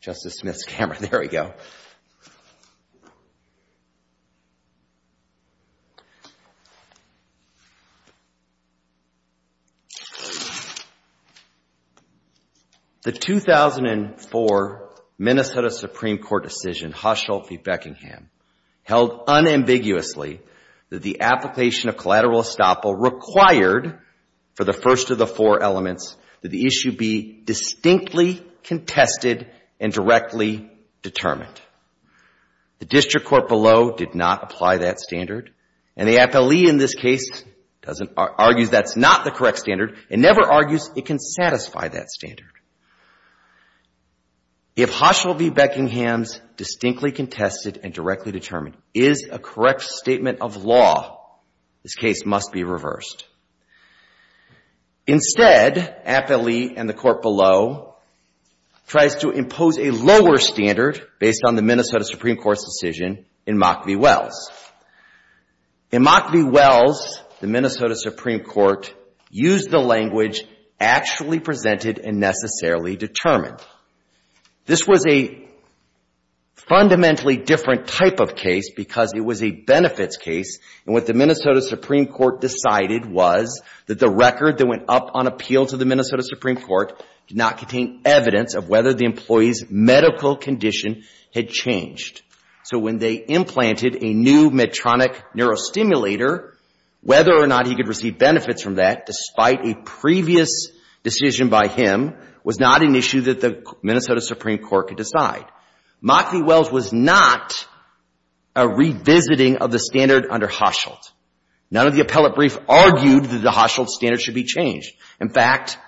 Justice Smith's camera, there we go. The 2004 Minnesota Supreme Court decision, Hushel v. Beckingham, held unambiguously that the application of collateral estoppel required for the first of the four elements that the issue be distinctly contested and directly determined. The district court below did not apply that standard, and the appellee in this case argues that's not the correct standard and never argues it can satisfy that standard. If Hushel v. Beckingham's distinctly contested and directly determined is a correct statement of law, this case must be reversed. Instead, appellee and the court below tries to impose a lower standard based on the Minnesota Supreme Court's decision in Mock v. Wells. In Mock v. Wells, the Minnesota Supreme Court used the language actually presented and necessarily determined. This was a fundamentally different type of case because it was a benefits case, and what the Minnesota Supreme Court decided was that the record that went up on appeal to the Minnesota Supreme Court did not contain evidence of whether the employee's medical condition had changed. So when they implanted a new Medtronic neurostimulator, whether or not he could receive benefits from that, despite a previous decision by him, was not an issue that the Minnesota Supreme Court could decide. Mock v. Wells was not a revisiting of the standard under Hushelt. None of the appellate briefs argued that the Hushelt standard should be changed. In fact,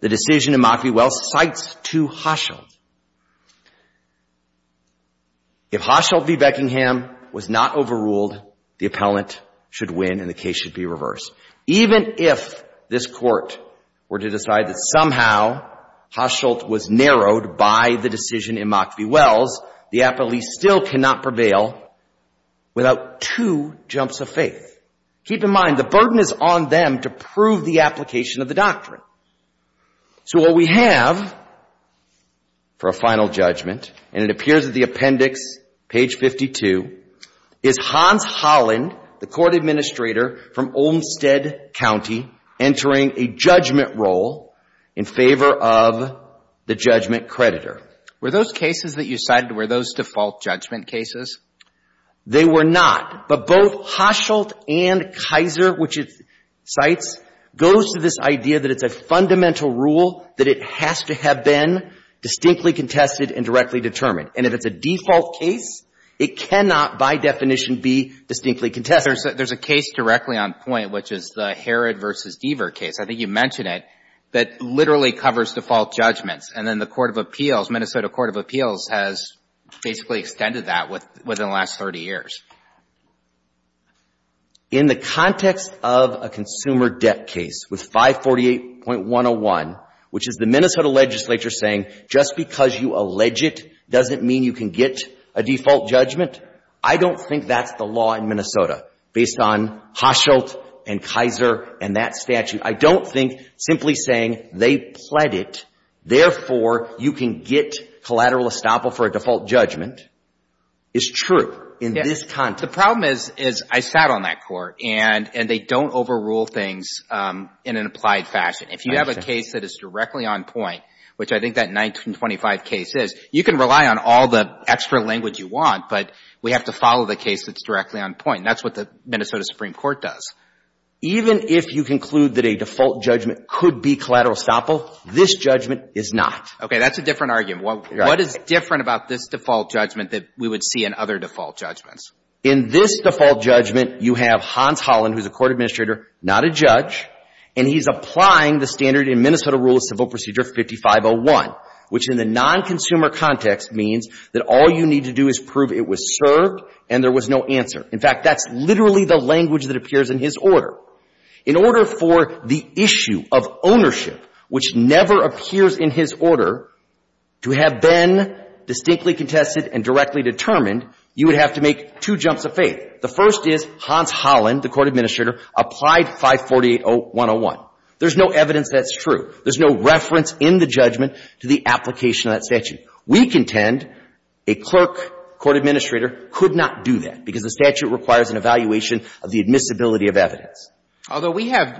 the decision in Mock v. Wells cites to Hushelt. If Hushelt v. Beckingham was not overruled, the appellant should win and the case should be reversed. Even if this Court were to decide that somehow Hushelt was narrowed by the decision in Mock v. Wells, the appellee still cannot prevail without two jumps of faith. Keep in mind, the burden is on them to prove the application of the doctrine. So what we have for a final judgment, and it appears at the appendix, page 52, is Hans Olmstead County entering a judgment role in favor of the judgment creditor. Were those cases that you cited, were those default judgment cases? They were not. But both Hushelt and Kaiser, which it cites, goes to this idea that it's a fundamental rule that it has to have been distinctly contested and directly determined. And if it's a default case, it cannot, by definition, be distinctly contested. There's a case directly on point, which is the Herod v. Deaver case. I think you mentioned it, that literally covers default judgments. And then the Court of Appeals, Minnesota Court of Appeals, has basically extended that within the last 30 years. In the context of a consumer debt case with 548.101, which is the Minnesota legislature saying just because you allege it doesn't mean you can get a default judgment, I don't think that's the law in Minnesota based on Hushelt and Kaiser and that statute. I don't think simply saying they pled it, therefore, you can get collateral estoppel for a default judgment is true in this context. The problem is I sat on that Court, and they don't overrule things in an applied fashion. If you have a case that is directly on point, which I think that 1925 case is, you can rely on all the extra language you want, but we have to follow the case that's directly on point. And that's what the Minnesota Supreme Court does. Even if you conclude that a default judgment could be collateral estoppel, this judgment is not. Okay, that's a different argument. What is different about this default judgment that we would see in other default judgments? In this default judgment, you have Hans Hollen, who's a court administrator, not a judge, and he's applying the standard in Minnesota Rule of Civil Procedure 5501, which in the non-consumer context means that all you need to do is prove it was served and there was no answer. In fact, that's literally the language that appears in his order. In order for the issue of ownership, which never appears in his order, to have been distinctly contested and directly determined, you would have to make two jumps of faith. The first is Hans Hollen, the court administrator, applied 548-101. There's no evidence that's true. There's no reference in the judgment to the application of that statute. We contend a clerk, court administrator, could not do that because the statute requires an evaluation of the admissibility of evidence. Although we have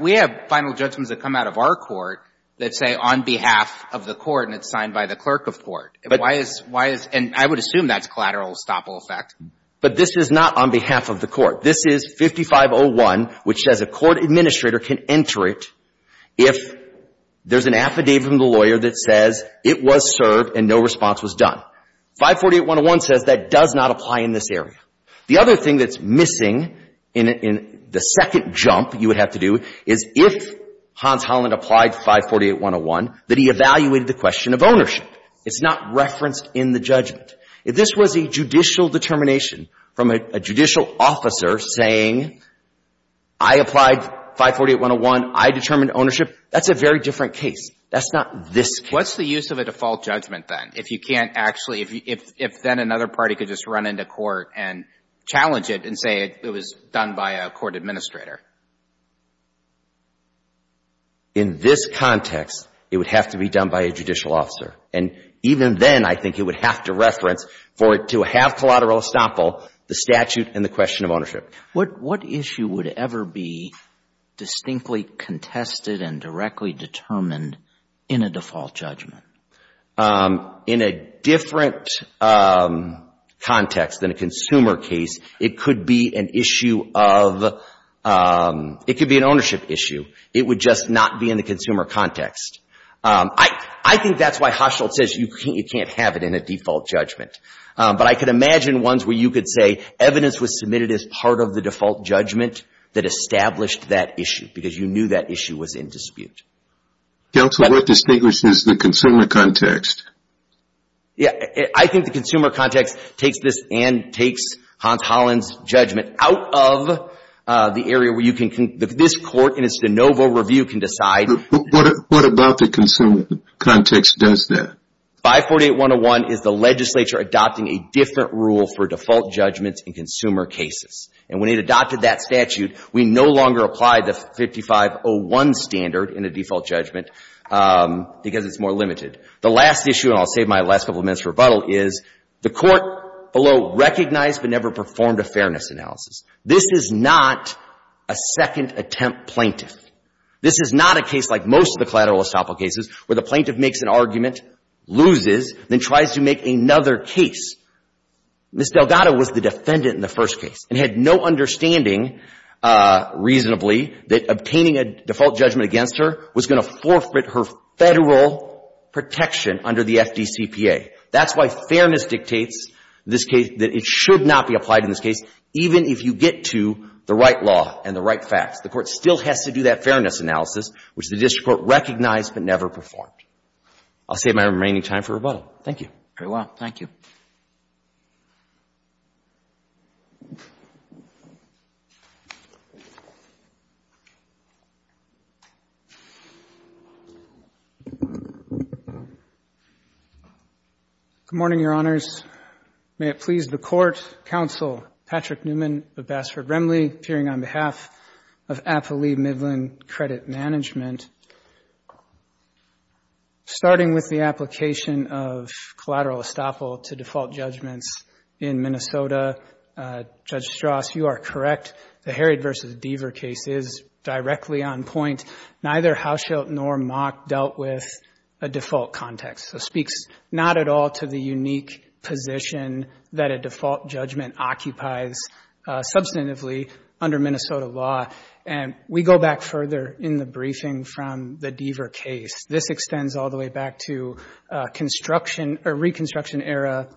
final judgments that come out of our court that say on behalf of the court and it's signed by the clerk of court. Why is — and I would assume that's collateral estoppel effect. But this is not on behalf of the court. This is 5501, which says a court administrator can enter it if there's an affidavit from the lawyer that says it was served and no response was done. 548-101 says that does not apply in this area. The other thing that's missing in the second jump you would have to do is if Hans Hollen applied 548-101, that he evaluated the question of ownership. It's not referenced in the judgment. If this was a judicial determination from a judicial officer saying I applied 548-101, I determined ownership, that's a very different case. That's not this case. What's the use of a default judgment, then, if you can't actually — if then another party could just run into court and challenge it and say it was done by a court administrator? In this context, it would have to be done by a judicial officer. And even then, I think it would have to reference for it to have collateral estoppel, the statute and the question of ownership. What issue would ever be distinctly contested and directly determined in a default judgment? In a different context than a consumer case, it could be an issue of — it could be an ownership issue. It would just not be in the consumer context. I think that's why Hochschild says you can't have it in a default judgment. But I can imagine ones where you could say evidence was submitted as part of the default judgment that established that issue because you knew that issue was in dispute. Counsel, what distinguishes the consumer context? I think the consumer context takes this and takes Hans Hollen's judgment out of the area where you can — this court in its de novo review can decide — What about the consumer context does that? 548-101 is the legislature adopting a different rule for default judgments in consumer cases. And when it adopted that statute, we no longer applied the 5501 standard in a default judgment because it's more limited. The last issue, and I'll save my last couple of minutes for rebuttal, is the court below recognized but never performed a fairness analysis. This is not a second attempt plaintiff. This is not a case like most of the collateral estoppel cases where the plaintiff makes an argument, loses, then tries to make another case. Ms. Delgado was the defendant in the first case and had no understanding reasonably that obtaining a default judgment against her was going to forfeit her Federal protection under the FDCPA. That's why fairness dictates that it should not be applied in this case even if you get to the right law and the right facts. The court still has to do that fairness analysis, which the district court recognized but never performed. I'll save my remaining time for rebuttal. Thank you. Very well. Thank you. Good morning, Your Honors. May it please the Court, Counsel Patrick Newman of Bassford-Remley, appearing on behalf of Appali Midland Credit Management. Starting with the application of collateral estoppel to default judgments in Minnesota, Judge Strauss, you are correct. The Herod v. Deaver case is directly on point. Neither Hauschildt nor Mock dealt with a default context. It speaks not at all to the unique position that a default judgment occupies substantively under Minnesota law. We go back further in the briefing from the Deaver case. This extends all the way back to reconstruction-era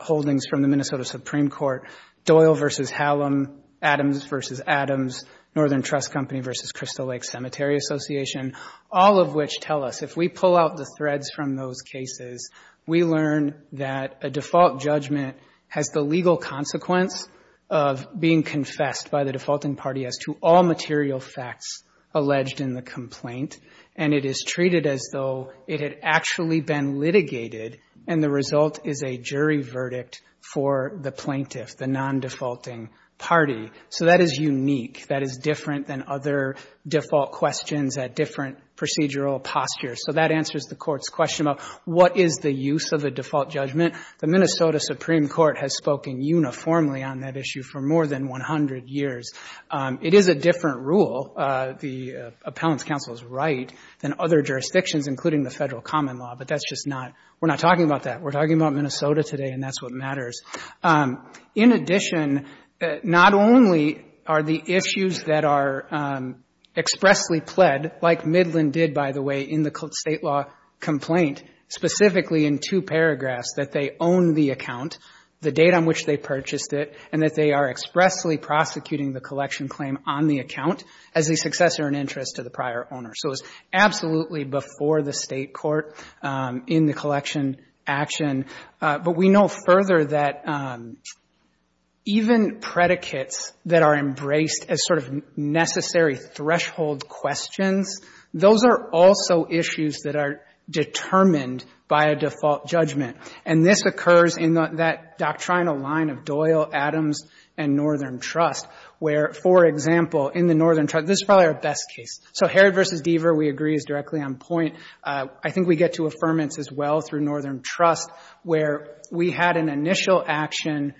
holdings from the Minnesota Supreme Court, Doyle v. Hallam, Adams v. Adams, Northern Trust Company v. Crystal Lake Cemetery Association, all of which tell us if we pull out the threads from those cases, we learn that a default judgment has the legal consequence of being confessed by the defaulting party as to all material facts alleged in the complaint, and it is treated as though it had actually been litigated and the result is a jury verdict for the plaintiff, the non-defaulting party. So that is unique. That is different than other default questions at different procedural postures. So that answers the Court's question about what is the use of a default judgment. The Minnesota Supreme Court has spoken uniformly on that issue for more than 100 years. It is a different rule, the Appellant's counsel's right, than other jurisdictions, including the Federal common law, but that's just not, we're not talking about that. We're talking about Minnesota today, and that's what matters. In addition, not only are the issues that are expressly pled, like Midland did, by the way, in the state law complaint, specifically in two paragraphs, that they own the account, the date on which they purchased it, and that they are expressly prosecuting the collection claim on the account as a successor in interest to the prior owner. So it was absolutely before the state court in the collection action, but we know further that even predicates that are embraced as sort of necessary threshold questions, those are also issues that are determined by a default judgment. And this occurs in that doctrinal line of Doyle, Adams, and Northern Trust, where, for example, in the Northern Trust, this is probably our best case. So Herod v. Deaver we agree is directly on point. I think we get to affirmance as well through Northern Trust, where we had an initial action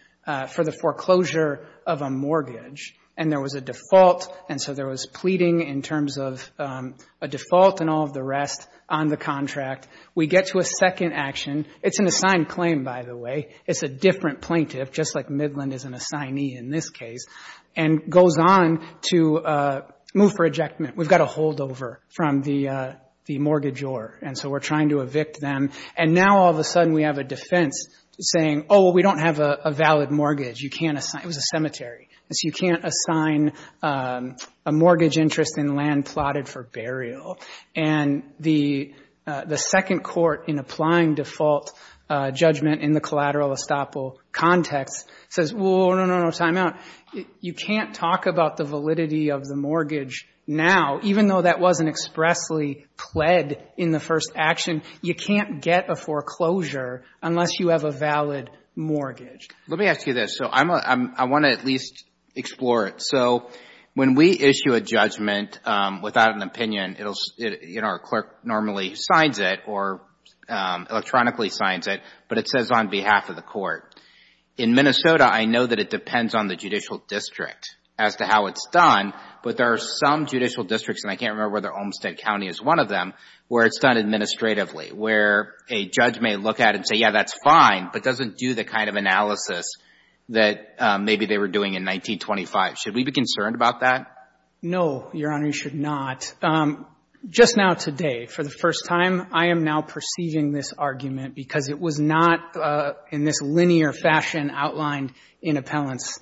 for the foreclosure of a mortgage, and there was a default, and so there was pleading in terms of a default and all of the rest on the contract. We get to a second action. It's an assigned claim, by the way. It's a different plaintiff, just like Midland is an assignee in this case, and goes on to move for ejectment. We've got a holdover from the mortgagor, and so we're trying to evict them. And now all of a sudden we have a defense saying, oh, well, we don't have a valid mortgage. You can't assign. It was a cemetery. So you can't assign a mortgage interest in land plotted for burial. And the second court, in applying default judgment in the collateral estoppel context, says, well, no, no, no, time out. You can't talk about the validity of the mortgage now, even though that wasn't expressly pled in the first action. You can't get a foreclosure unless you have a valid mortgage. Let me ask you this. So I want to at least explore it. So when we issue a judgment without an opinion, our clerk normally signs it or electronically signs it, but it says on behalf of the court. In Minnesota, I know that it depends on the judicial district as to how it's done, but there are some judicial districts, and I can't remember whether Olmstead County is one of them, where it's done administratively, where a judge may look at it and say, yeah, that's fine, but doesn't do the kind of analysis that maybe they were doing in 1925. Should we be concerned about that? No, Your Honor, you should not. Just now today, for the first time, I am now perceiving this argument because it was not in this linear fashion outlined in appellant's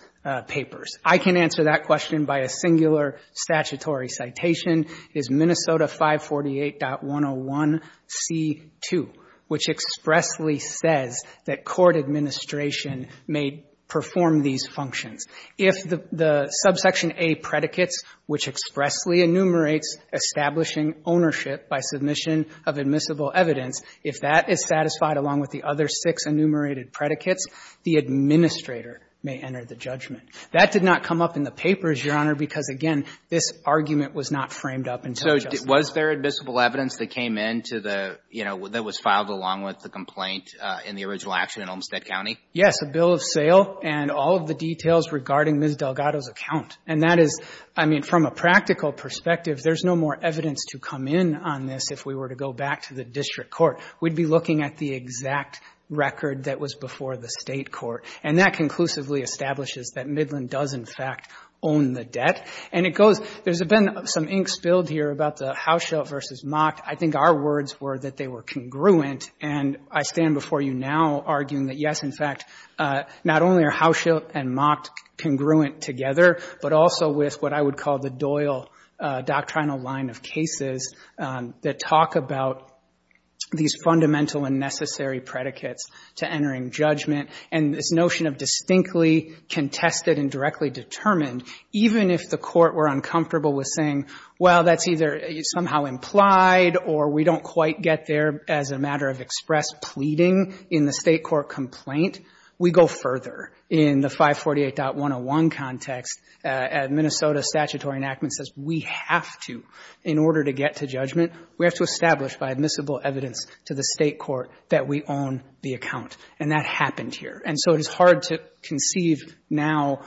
papers. I can answer that question by a singular statutory citation, is Minnesota 548.101c2, which expressly says that court administration may perform these functions. If the Subsection A predicates, which expressly enumerates establishing ownership by submission of admissible evidence, if that is satisfied along with the other six enumerated predicates, the administrator may enter the judgment. That did not come up in the papers, Your Honor, because, again, this argument was not framed up until just now. So was there admissible evidence that came into the, you know, that was filed along with the complaint in the original action in Olmstead County? Yes, a bill of sale and all of the details regarding Ms. Delgado's account. And that is, I mean, from a practical perspective, there's no more evidence to come in on this if we were to go back to the district court. We'd be looking at the exact record that was before the state court. And that conclusively establishes that Midland does, in fact, own the debt. And it goes, there's been some ink spilled here about the Hauschildt v. Mocked. I think our words were that they were congruent. And I stand before you now arguing that, yes, in fact, not only are Hauschildt and Mocked congruent together, but also with what I would call the Doyle doctrinal line of cases that talk about these fundamental and necessary predicates to entering judgment. And this notion of distinctly contested and directly determined, even if the court were uncomfortable with saying, well, that's either somehow implied or we don't quite get there as a matter of express pleading in the state court complaint, we go further. In the 548.101 context, Minnesota statutory enactment says we have to, in order to get to judgment, we have to establish by admissible evidence to the state court that we own the account. And that happened here. And so it is hard to conceive now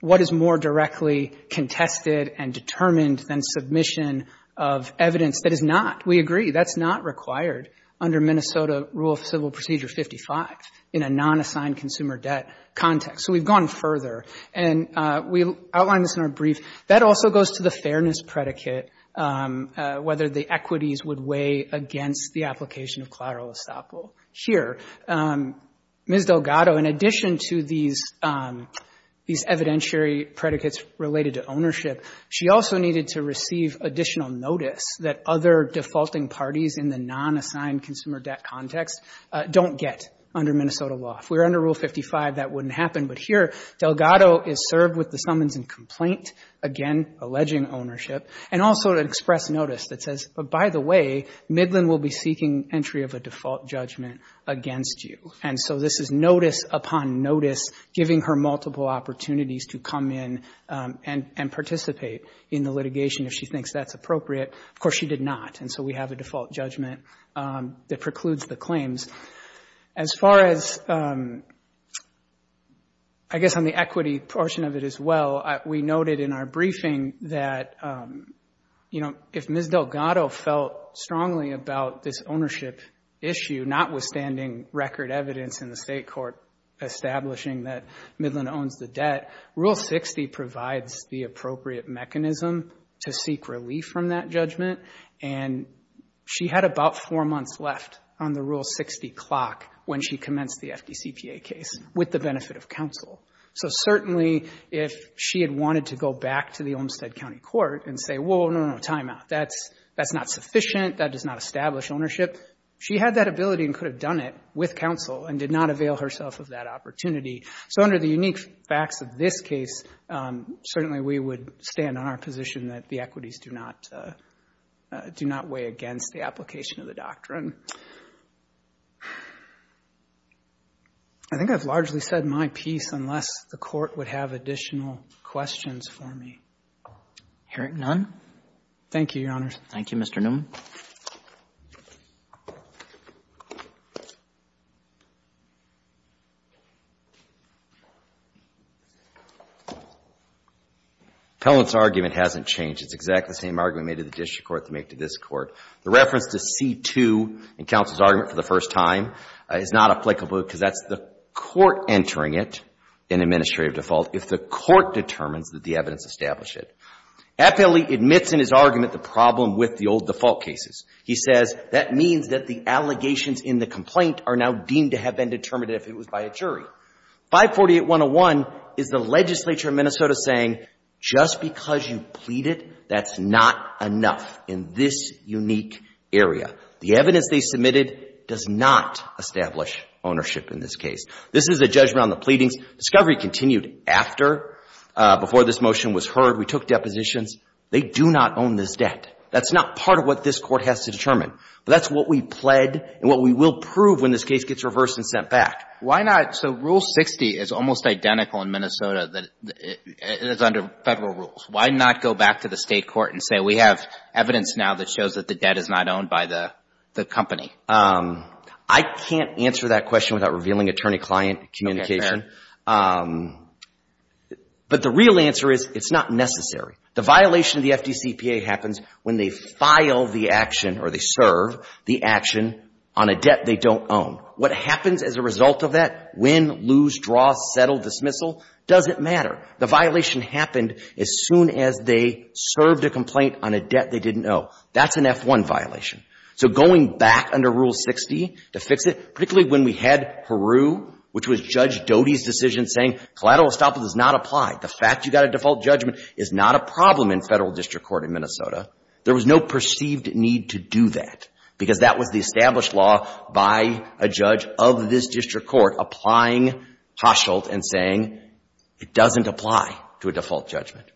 what is more directly contested and determined than submission of evidence that is not. We agree that's not required under Minnesota Rule of Civil Procedure 55 in a non-assigned consumer debt context. So we've gone further. And we outlined this in our brief. That also goes to the fairness predicate, whether the equities would weigh against the application of collateral estoppel. Here, Ms. Delgado, in addition to these evidentiary predicates related to ownership, she also needed to receive additional notice that other defaulting parties in the non-assigned consumer debt context don't get under Minnesota law. If we were under Rule 55, that wouldn't happen. But here, Delgado is served with the summons and complaint, again, alleging ownership, and also an express notice that says, by the way, Midland will be seeking entry of a default judgment against you. And so this is notice upon notice giving her multiple opportunities to come in and participate in the litigation if she thinks that's appropriate. Of course, she did not. And so we have a default judgment that precludes the claims. As far as, I guess, on the equity portion of it as well, we noted in our briefing that, you know, if Ms. Delgado felt strongly about this ownership issue, notwithstanding record evidence in the state court establishing that Midland owns the debt, Rule 60 provides the appropriate mechanism to seek relief from that judgment. And she had about four months left on the Rule 60 clock when she commenced the FDCPA case with the benefit of counsel. So certainly, if she had wanted to go back to the Olmstead County Court and say, well, no, no, no, timeout. That's not sufficient. That does not establish ownership. She had that ability and could have done it with counsel and did not avail herself of that opportunity. So under the unique facts of this case, certainly we would stand on our position that the equities do not weigh against the application of the doctrine. I think I've largely said my piece unless the Court would have additional questions for me. Hearing none. Thank you, Your Honors. Thank you, Mr. Newman. Appellant's argument hasn't changed. It's exactly the same argument made to the district court to make to this court. The reference to C-2 in counsel's argument for the first time is not applicable because that's the court entering it in administrative default if the court determines that the evidence established it. Appellee admits in his argument the problem with the old default cases. He says that means that the allegations in the complaint are now deemed to have been determined if it was by a jury. 548-101 is the legislature of Minnesota saying, just because you pleaded, that's not enough in this unique area. The evidence they submitted does not establish ownership in this case. This is a judgment on the pleadings. Discovery continued after, before this motion was heard. We took depositions. They do not own this debt. That's not part of what this court has to determine. But that's what we pled and what we will prove when this case gets reversed and sent back. Why not, so Rule 60 is almost identical in Minnesota that it is under federal rules. Why not go back to the state court and say we have evidence now that shows that the debt is not owned by the company? I can't answer that question without revealing attorney-client communication. But the real answer is, it's not necessary. The violation of the FDCPA happens when they file the action or they serve the action on a debt they don't own. What happens as a result of that, win, lose, draw, settle, dismissal, doesn't matter. The violation happened as soon as they served a complaint on a debt they didn't owe. That's an F-1 violation. So going back under Rule 60 to fix it, particularly when we had Heroux, which was Judge Doty's decision saying collateral estoppel does not apply, the fact you got a default judgment is not a problem in federal district court in Minnesota, there was no perceived need to do that because that was the established law by a judge of this district court applying Hosshult and saying it doesn't apply to a default judgment.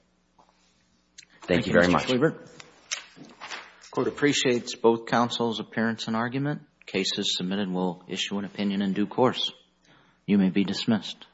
Thank you very much. Thank you, Justice Lieber. The Court appreciates both counsel's appearance and argument. Cases submitted will issue an opinion in due course. You may be dismissed.